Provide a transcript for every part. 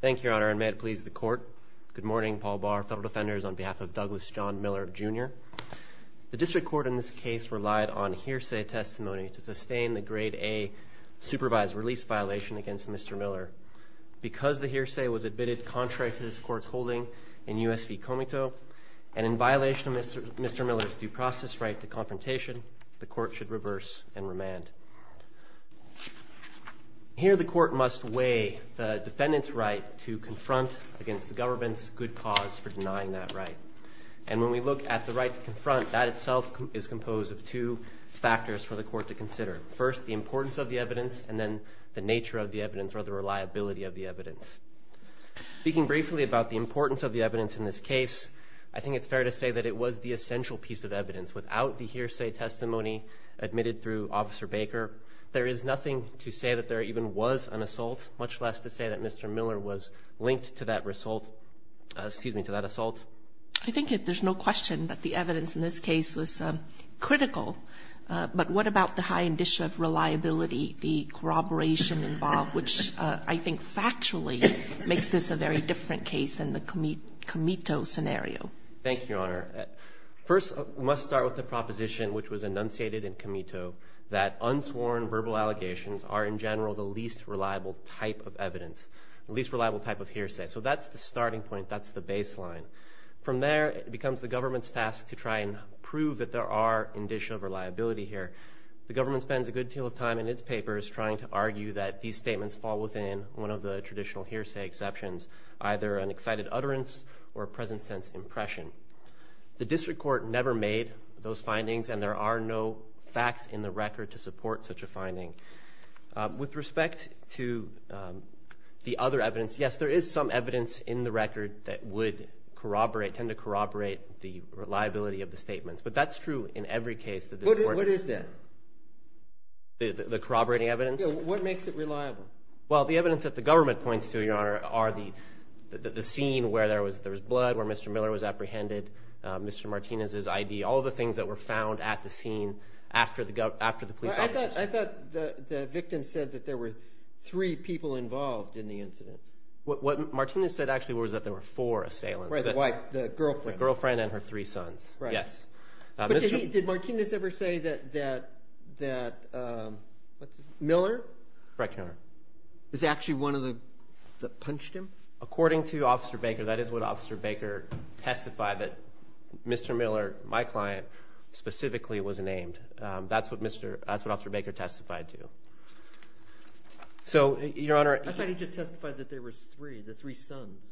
Thank you, Your Honor, and may it please the Court. Good morning. Paul Barr, Federal Defenders, on behalf of Douglas John Miller, Jr. The District Court in this case relied on hearsay testimony to sustain the Grade A supervised release violation against Mr. Miller. Because the hearsay was admitted contrary to this Court's holding in U.S. v. Comito, and in violation of Mr. Miller's due process right to confrontation, the Court should reverse and remand. Here, the Court must weigh the defendant's right to confront against the government's good cause for denying that right. And when we look at the right to confront, that itself is composed of two factors for the Court to consider. First, the importance of the evidence, and then the nature of the evidence or the reliability of the evidence. Speaking briefly about the importance of the evidence in this case, I think it's fair to say that it was the essential piece of evidence. Without the hearsay testimony admitted through Officer Baker, there is nothing to say that there even was an assault, much less to say that Mr. Miller was linked to that assault. I think there's no question that the evidence in this case was critical. But what about the high indicia of reliability, the corroboration involved, which I think factually makes this a very different case than the Comito scenario? Thank you, Your Honor. First, we must start with the proposition which was enunciated in Comito, that unsworn verbal allegations are in general the least reliable type of evidence, the least reliable type of hearsay. So that's the starting point. That's the baseline. From there, it becomes the government's task to try and prove that there are indicia of reliability here. The government spends a good deal of time in its papers trying to argue that these statements fall within one of the traditional hearsay exceptions, either an excited utterance or a present-sense impression. The district court never made those findings, and there are no facts in the record to support such a finding. With respect to the other evidence, yes, there is some evidence in the record that would corroborate, tend to corroborate the reliability of the statements. But that's true in every case. What is that? The corroborating evidence? What makes it reliable? Well, the evidence that the government points to, Your Honor, are the scene where there was blood, where Mr. Miller was apprehended, Mr. Martinez's ID, all the things that were found at the scene after the police officers. I thought the victim said that there were three people involved in the incident. What Martinez said actually was that there were four assailants. Right, the wife, the girlfriend. The girlfriend and her three sons, yes. But did Martinez ever say that Miller? Correct, Your Honor. Was actually one of the ones that punched him? According to Officer Baker, that is what Officer Baker testified, that Mr. Miller, my client, specifically was named. That's what Officer Baker testified to. So, Your Honor. I thought he just testified that there were three, the three sons.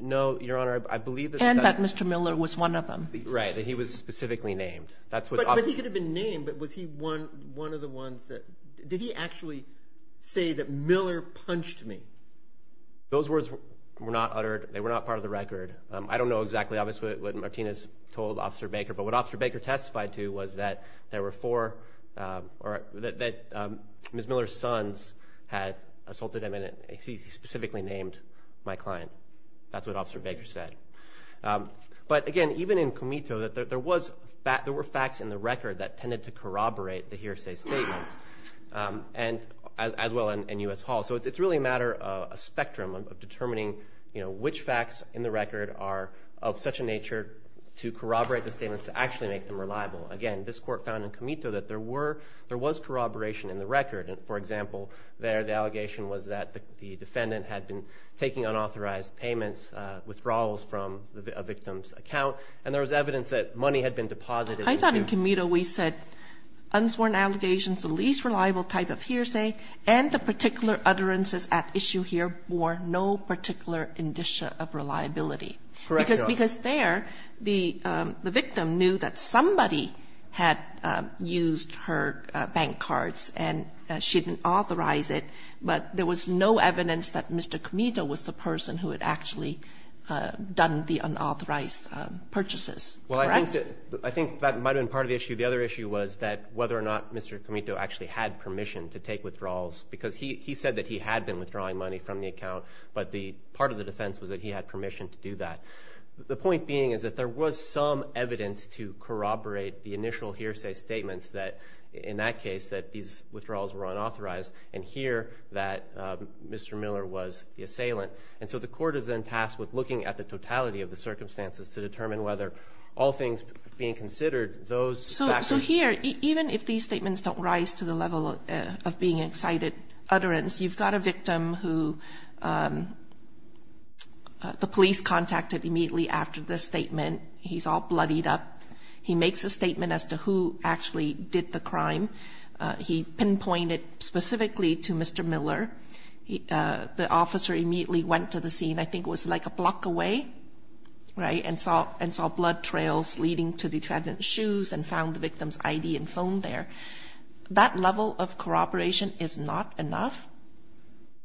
No, Your Honor. And that Mr. Miller was one of them. Right, that he was specifically named. But he could have been named, but was he one of the ones that, did he actually say that Miller punched me? Those words were not uttered. They were not part of the record. I don't know exactly, obviously, what Martinez told Officer Baker, but what Officer Baker testified to was that there were four, that Ms. Miller's sons had assaulted him, and he specifically named my client. That's what Officer Baker said. But, again, even in Comito, there were facts in the record that tended to corroborate the hearsay statements, as well in U.S. Hall. So it's really a matter of a spectrum of determining, you know, which facts in the record are of such a nature to corroborate the statements to actually make them reliable. Again, this court found in Comito that there was corroboration in the record. For example, there the allegation was that the defendant had been taking unauthorized payments, withdrawals from a victim's account, and there was evidence that money had been deposited. I thought in Comito we said unsworn allegations, the least reliable type of hearsay, and the particular utterances at issue here bore no particular indicia of reliability. Correct, Your Honor. Because there the victim knew that somebody had used her bank cards and she didn't authorize it, but there was no evidence that Mr. Comito was the person who had actually done the unauthorized purchases. Correct? Well, I think that might have been part of the issue. The other issue was that whether or not Mr. Comito actually had permission to take withdrawals, because he said that he had been withdrawing money from the account, but the part of the defense was that he had permission to do that. The point being is that there was some evidence to corroborate the initial hearsay statements that in that case that these withdrawals were unauthorized, and here that Mr. Miller was the assailant. And so the court is then tasked with looking at the totality of the circumstances to determine whether all things being considered, those factors. So here, even if these statements don't rise to the level of being excited utterance, you've got a victim who the police contacted immediately after the statement. He's all bloodied up. He makes a statement as to who actually did the crime. He pinpointed specifically to Mr. Miller. The officer immediately went to the scene. I think it was like a block away, right, and saw blood trails leading to the defendant's shoes and found the victim's I.D. and phone there. That level of corroboration is not enough?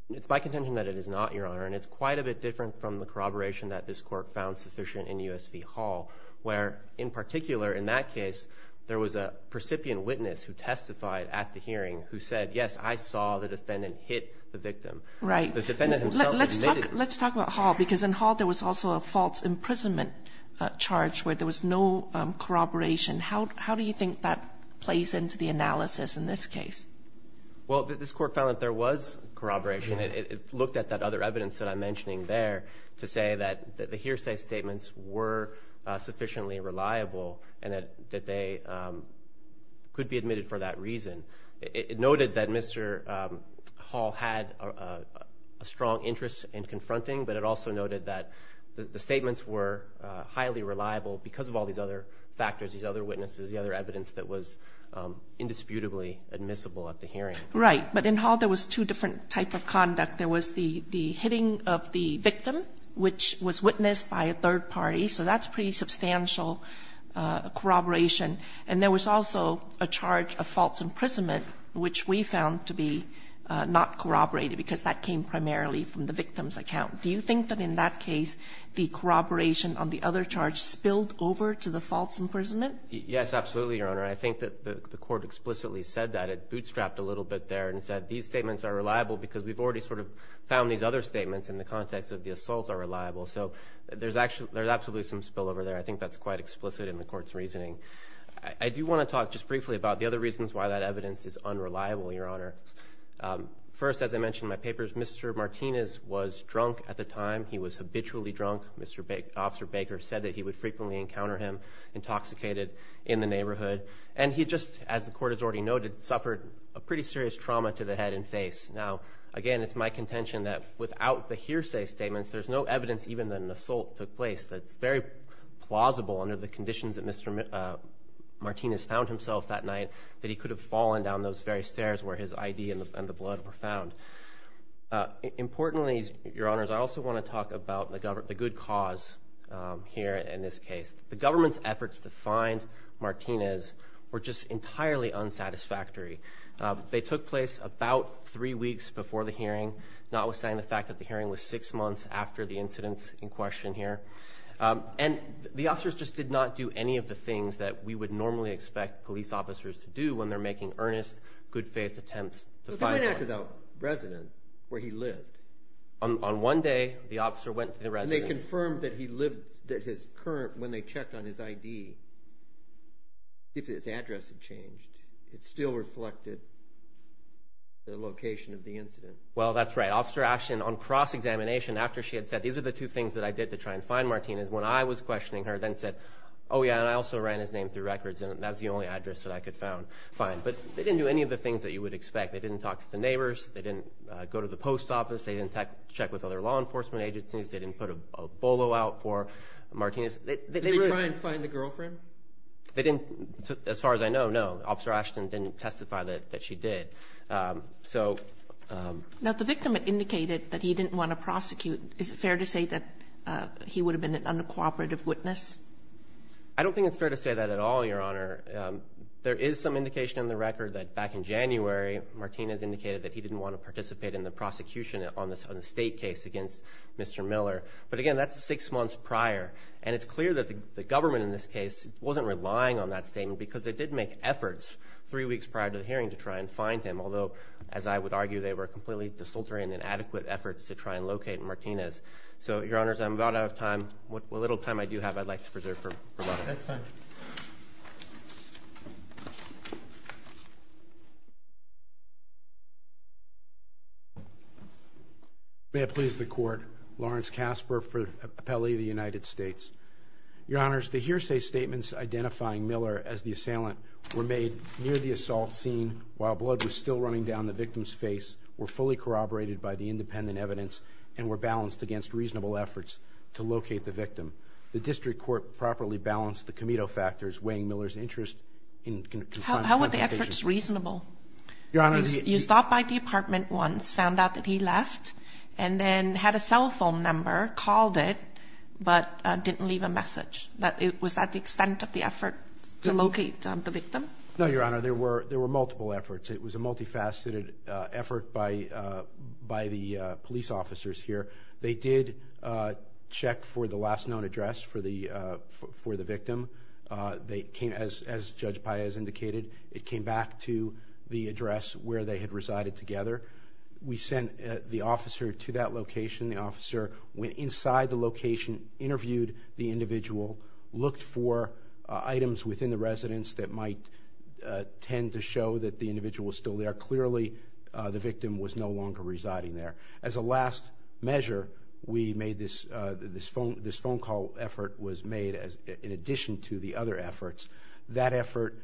It's my contention that it is not, Your Honor. And it's quite a bit different from the corroboration that this court found sufficient in U.S. v. Hall, where in particular in that case there was a precipient witness who testified at the hearing who said, yes, I saw the defendant hit the victim. Right. The defendant himself had made it. Let's talk about Hall, because in Hall there was also a false imprisonment charge where there was no corroboration. How do you think that plays into the analysis in this case? Well, this court found that there was corroboration. It looked at that other evidence that I'm mentioning there to say that the hearsay statements were sufficiently reliable and that they could be admitted for that reason. It noted that Mr. Hall had a strong interest in confronting, but it also noted that the statements were highly reliable because of all these other factors, these other witnesses, the other evidence that was indisputably admissible at the hearing. Right. But in Hall there was two different types of conduct. There was the hitting of the victim, which was witnessed by a third party. So that's pretty substantial corroboration. And there was also a charge of false imprisonment, which we found to be not corroborated because that came primarily from the victim's account. Do you think that in that case the corroboration on the other charge spilled over to the false imprisonment? Yes, absolutely, Your Honor. I think that the court explicitly said that. It bootstrapped a little bit there and said these statements are reliable because we've already sort of found these other statements in the context of the assault are reliable. So there's absolutely some spillover there. I think that's quite explicit in the court's reasoning. I do want to talk just briefly about the other reasons why that evidence is unreliable, Your Honor. First, as I mentioned in my papers, Mr. Martinez was drunk at the time. He was habitually drunk. Officer Baker said that he would frequently encounter him intoxicated in the neighborhood. And he just, as the court has already noted, suffered a pretty serious trauma to the head and face. Now, again, it's my contention that without the hearsay statements there's no evidence even that an assault took place that's very plausible under the conditions that Mr. Martinez found himself that night that he could have fallen down those very stairs where his ID and the blood were found. Importantly, Your Honors, I also want to talk about the good cause here in this case. The government's efforts to find Martinez were just entirely unsatisfactory. They took place about three weeks before the hearing, notwithstanding the fact that the hearing was six months after the incidents in question here. And the officers just did not do any of the things that we would normally expect police officers to do when they're making earnest, good-faith attempts to find one. But they went back to the residence where he lived. On one day, the officer went to the residence. And they confirmed that he lived, that his current, when they checked on his ID, if his address had changed, it still reflected the location of the incident. Well, that's right. Officer Ashton, on cross-examination, after she had said, these are the two things that I did to try and find Martinez, when I was questioning her, then said, oh, yeah, and I also ran his name through records, and that was the only address that I could find. But they didn't do any of the things that you would expect. They didn't talk to the neighbors. They didn't go to the post office. They didn't check with other law enforcement agencies. They didn't put a bolo out for Martinez. Did they try and find the girlfriend? They didn't, as far as I know, no. Officer Ashton didn't testify that she did. Now, the victim indicated that he didn't want to prosecute. Is it fair to say that he would have been an uncooperative witness? I don't think it's fair to say that at all, Your Honor. There is some indication in the record that back in January, Martinez indicated that he didn't want to participate in the prosecution on the state case against Mr. Miller. But, again, that's six months prior. And it's clear that the government in this case wasn't relying on that statement because they did make efforts three weeks prior to the hearing to try and find him, although, as I would argue, they were completely disaltering and inadequate efforts to try and locate Martinez. So, Your Honors, I'm about out of time. The little time I do have, I'd like to preserve for a while. That's fine. May it please the Court, Lawrence Kasper for the Appellee of the United States. Your Honors, the hearsay statements identifying Miller as the assailant were made near the assault scene while blood was still running down the victim's face, were fully corroborated by the independent evidence, and were balanced against reasonable efforts to locate the victim. The district court properly balanced the committee of factors weighing Miller's interest in confining complications. How were the efforts reasonable? Your Honors, he... You stopped by the apartment once, found out that he left, and then had a cell phone number, called it, but didn't leave a message. Was that the extent of the effort to locate the victim? No, Your Honor. There were multiple efforts. It was a multifaceted effort by the police officers here. They did check for the last known address for the victim. They came, as Judge Paez indicated, it came back to the address where they had resided together. We sent the officer to that location. The officer went inside the location, interviewed the individual, looked for items within the residence that might tend to show that the individual was still there. Clearly, the victim was no longer residing there. As a last measure, we made this phone call effort was made in addition to the other efforts. That effort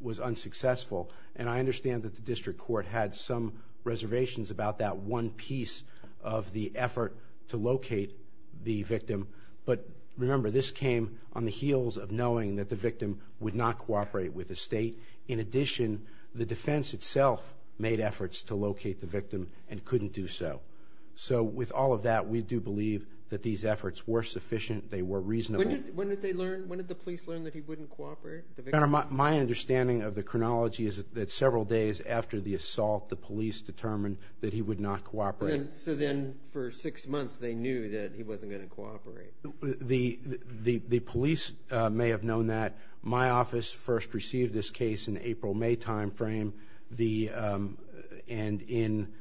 was unsuccessful, and I understand that the district court had some reservations about that one piece of the effort to locate the victim. But remember, this came on the heels of knowing that the victim would not cooperate with the state. In addition, the defense itself made efforts to locate the victim and couldn't do so. So with all of that, we do believe that these efforts were sufficient, they were reasonable. When did they learn, when did the police learn that he wouldn't cooperate? My understanding of the chronology is that several days after the assault, the police determined that he would not cooperate. So then for six months, they knew that he wasn't going to cooperate. The police may have known that. My office first received this case in the April-May time frame, and in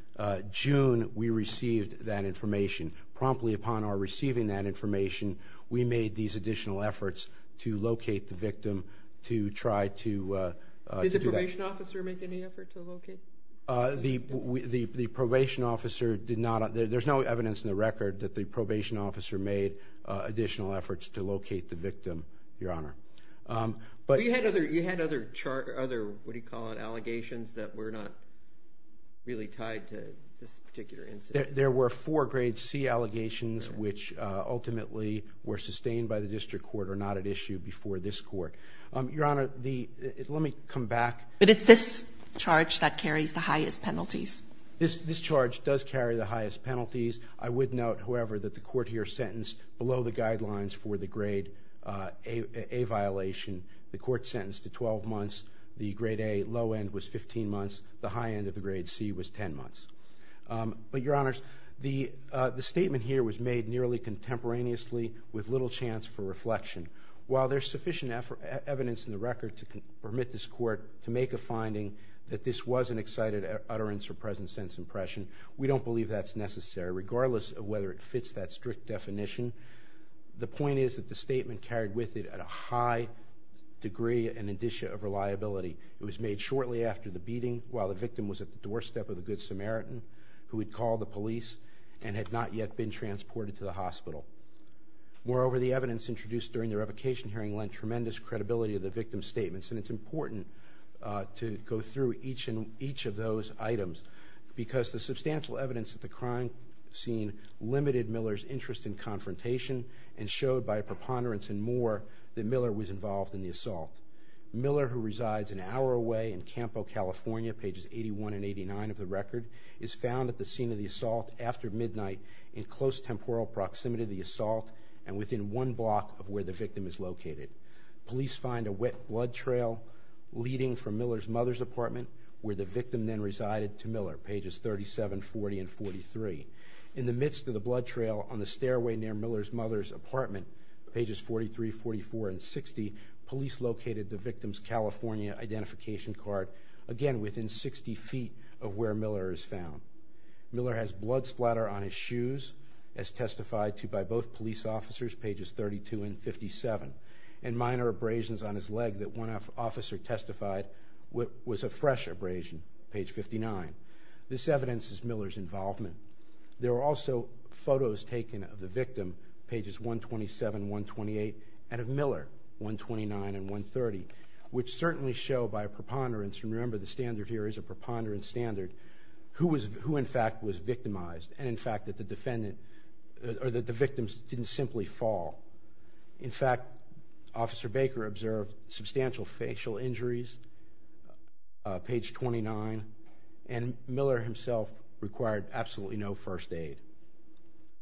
June, we received that information. We made these additional efforts to locate the victim to try to do that. Did the probation officer make any effort to locate the victim? The probation officer did not. There's no evidence in the record that the probation officer made additional efforts to locate the victim, Your Honor. You had other, what do you call it, allegations that were not really tied to this particular incident? There were four grade C allegations, which ultimately were sustained by the district court or not at issue before this court. Your Honor, let me come back. But it's this charge that carries the highest penalties. This charge does carry the highest penalties. I would note, however, that the court here sentenced below the guidelines for the grade A violation. The court sentenced to 12 months. The grade A low end was 15 months. The high end of the grade C was 10 months. But, Your Honors, the statement here was made nearly contemporaneously with little chance for reflection. While there's sufficient evidence in the record to permit this court to make a finding that this was an excited utterance or present sense impression, we don't believe that's necessary, regardless of whether it fits that strict definition. The point is that the statement carried with it a high degree and indicia of reliability. It was made shortly after the beating, while the victim was at the doorstep of the Good Samaritan, who had called the police and had not yet been transported to the hospital. Moreover, the evidence introduced during the revocation hearing lent tremendous credibility to the victim's statements. And it's important to go through each of those items, because the substantial evidence at the crime scene limited Miller's interest in confrontation and showed by a preponderance and more that Miller was involved in the assault. Miller, who resides an hour away in Campo, California, pages 81 and 89 of the record, is found at the scene of the assault after midnight in close temporal proximity to the assault and within one block of where the victim is located. Police find a wet blood trail leading from Miller's mother's apartment, where the victim then resided, to Miller, pages 37, 40, and 43. In the midst of the blood trail on the stairway near Miller's mother's apartment, pages 43, 44, and 60, police located the victim's California identification card, again within 60 feet of where Miller is found. Miller has blood splatter on his shoes, as testified to by both police officers, pages 32 and 57, and minor abrasions on his leg that one officer testified was a fresh abrasion, page 59. This evidence is Miller's involvement. There were also photos taken of the victim, pages 127, 128, and of Miller, 129 and 130, which certainly show by a preponderance, and remember the standard here is a preponderance standard, who in fact was victimized and in fact that the victim didn't simply fall. In fact, Officer Baker observed substantial facial injuries, page 29, and Miller himself required absolutely no first aid.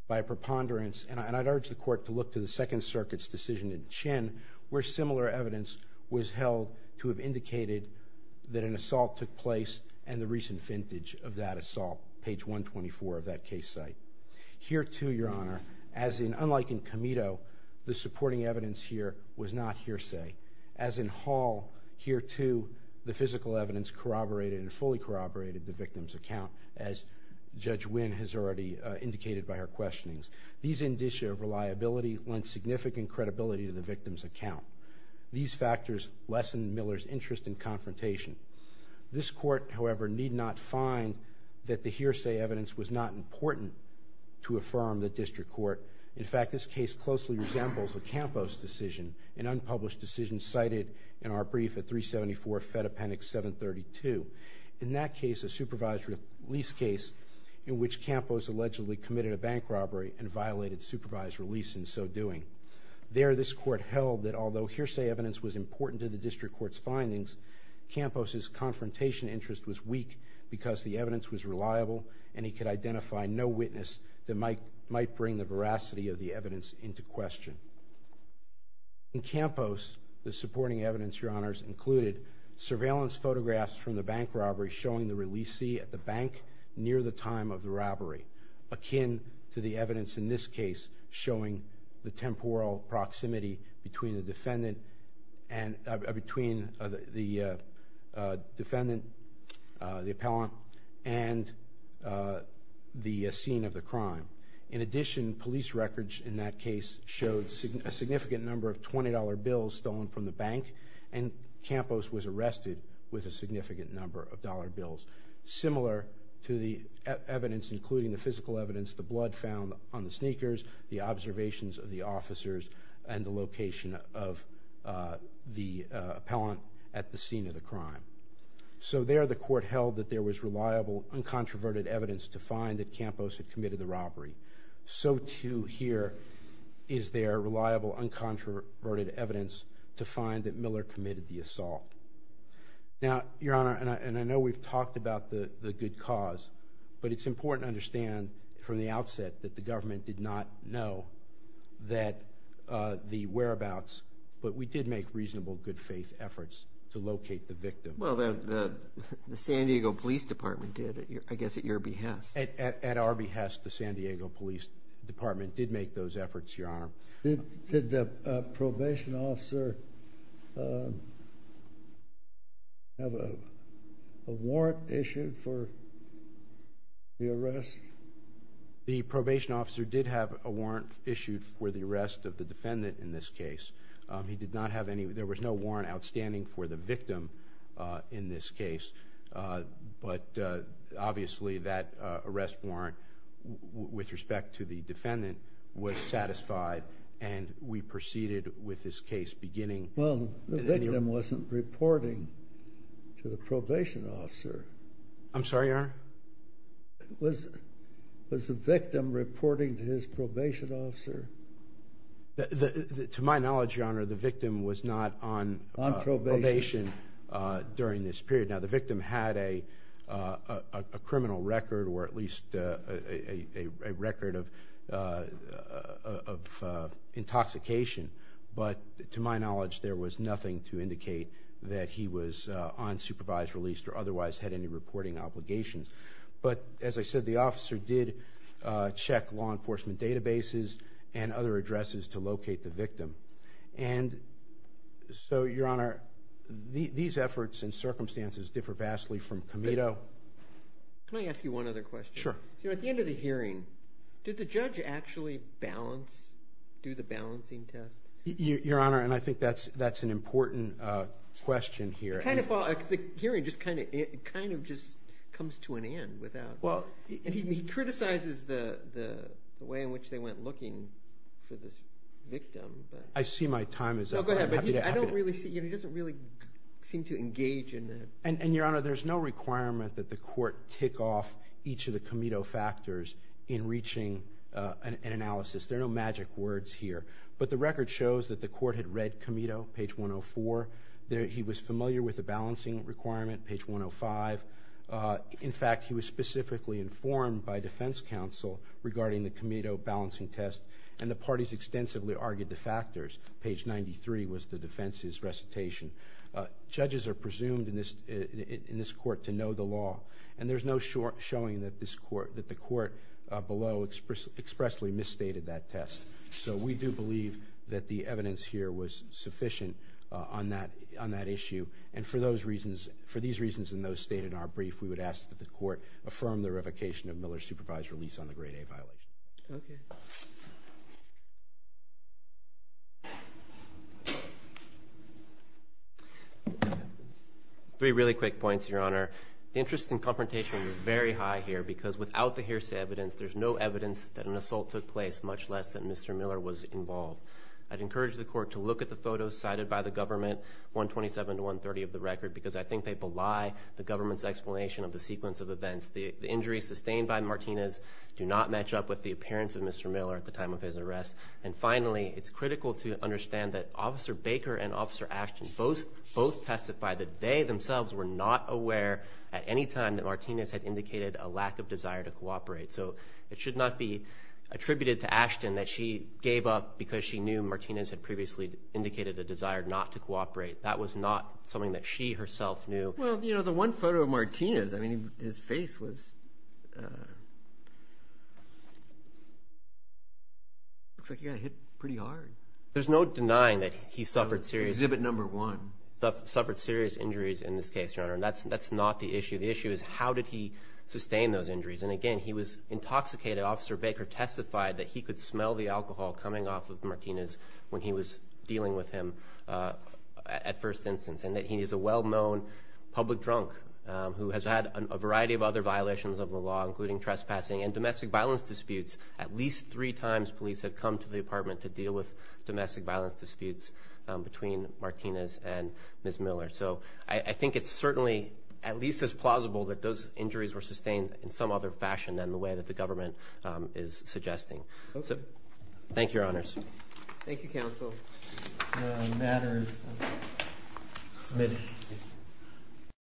By a preponderance, and I'd urge the court to look to the Second Circuit's decision in Chinn, where similar evidence was held to have indicated that an assault took place and the recent vintage of that assault, page 124 of that case site. Here too, Your Honor, as in unlike in Comito, the supporting evidence here was not hearsay. As in Hall, here too, the physical evidence corroborated and fully corroborated the victim's account, as Judge Winn has already indicated by her questionings. These indicia of reliability lend significant credibility to the victim's account. These factors lessen Miller's interest in confrontation. This court, however, need not find that the hearsay evidence was not important to affirm the district court. In fact, this case closely resembles a Campos decision, an unpublished decision cited in our brief at 374 Fed Appendix 732. In that case, a supervised release case in which Campos allegedly committed a bank robbery and violated supervised release in so doing. There, this court held that although hearsay evidence was important to the district court's findings, Campos' confrontation interest was weak because the evidence was reliable and he could identify no witness that might bring the veracity of the evidence into question. In Campos, the supporting evidence, Your Honors, included surveillance photographs from the bank robbery showing the releasee at the bank near the time of the robbery, akin to the evidence in this case showing the temporal proximity between the defendant, the appellant, and the scene of the crime. In addition, police records in that case showed a significant number of $20 bills stolen from the bank and Campos was arrested with a significant number of dollar bills. Similar to the evidence, including the physical evidence, the blood found on the sneakers, the observations of the officers, and the location of the appellant at the scene of the crime. So there, the court held that there was reliable, uncontroverted evidence to find that Campos had committed the robbery. So, too, here is there reliable, uncontroverted evidence to find that Miller committed the assault. Now, Your Honor, and I know we've talked about the good cause, but it's important to understand from the outset that the government did not know the whereabouts, but we did make reasonable, good faith efforts to locate the victim. Well, the San Diego Police Department did, I guess at your behest. At our behest, the San Diego Police Department did make those efforts, Your Honor. Did the probation officer have a warrant issued for the arrest? The probation officer did have a warrant issued for the arrest of the defendant in this case. He did not have any. There was no warrant outstanding for the victim in this case, but obviously that arrest warrant with respect to the defendant was satisfied, and we proceeded with this case beginning. Well, the victim wasn't reporting to the probation officer. I'm sorry, Your Honor? Was the victim reporting to his probation officer? To my knowledge, Your Honor, the victim was not on probation during this period. Now, the victim had a criminal record or at least a record of intoxication, but to my knowledge there was nothing to indicate that he was unsupervised, released, or otherwise had any reporting obligations. But as I said, the officer did check law enforcement databases and other addresses to locate the victim. And so, Your Honor, these efforts and circumstances differ vastly from Comito. Can I ask you one other question? Sure. At the end of the hearing, did the judge actually balance, do the balancing test? Your Honor, and I think that's an important question here. The hearing just kind of comes to an end. He criticizes the way in which they went looking for this victim. I see my time is up. Oh, go ahead. I don't really see it. He doesn't really seem to engage in it. And, Your Honor, there's no requirement that the court tick off each of the Comito factors in reaching an analysis. There are no magic words here. But the record shows that the court had read Comito, page 104. He was familiar with the balancing requirement, page 105. In fact, he was specifically informed by defense counsel regarding the Comito balancing test, and the parties extensively argued the factors. Page 93 was the defense's recitation. Judges are presumed in this court to know the law, and there's no showing that the court below expressly misstated that test. So we do believe that the evidence here was sufficient on that issue. And for these reasons and those stated in our brief, we would ask that the court affirm the revocation of Miller's supervised release on the Grade A violation. Okay. Three really quick points, Your Honor. The interest in confrontation was very high here because without the hearsay evidence, there's no evidence that an assault took place, much less that Mr. Miller was involved. I'd encourage the court to look at the photos cited by the government, 127 to 130 of the record, because I think they belie the government's explanation of the sequence of events. The injuries sustained by Martinez do not match up with the appearance of Mr. Miller at the time of his arrest. And finally, it's critical to understand that Officer Baker and Officer Ashton both testified that they themselves were not aware at any time that Martinez had indicated a lack of desire to cooperate. So it should not be attributed to Ashton that she gave up because she knew Martinez had previously indicated a desire not to cooperate. That was not something that she herself knew. Well, you know, the one photo of Martinez, I mean, his face was – looks like he got hit pretty hard. There's no denying that he suffered serious – Exhibit number one. Suffered serious injuries in this case, Your Honor, and that's not the issue. The issue is how did he sustain those injuries. And again, he was intoxicated. Officer Baker testified that he could smell the alcohol coming off of Martinez when he was dealing with him at first instance, and that he is a well-known public drunk who has had a variety of other violations of the law, including trespassing and domestic violence disputes. At least three times police have come to the apartment to deal with domestic violence disputes between Martinez and Ms. Miller. So I think it's certainly at least as plausible that those injuries were sustained in some other fashion than the way that the government is suggesting. So thank you, Your Honors. Thank you, Counsel. The matter is submitted.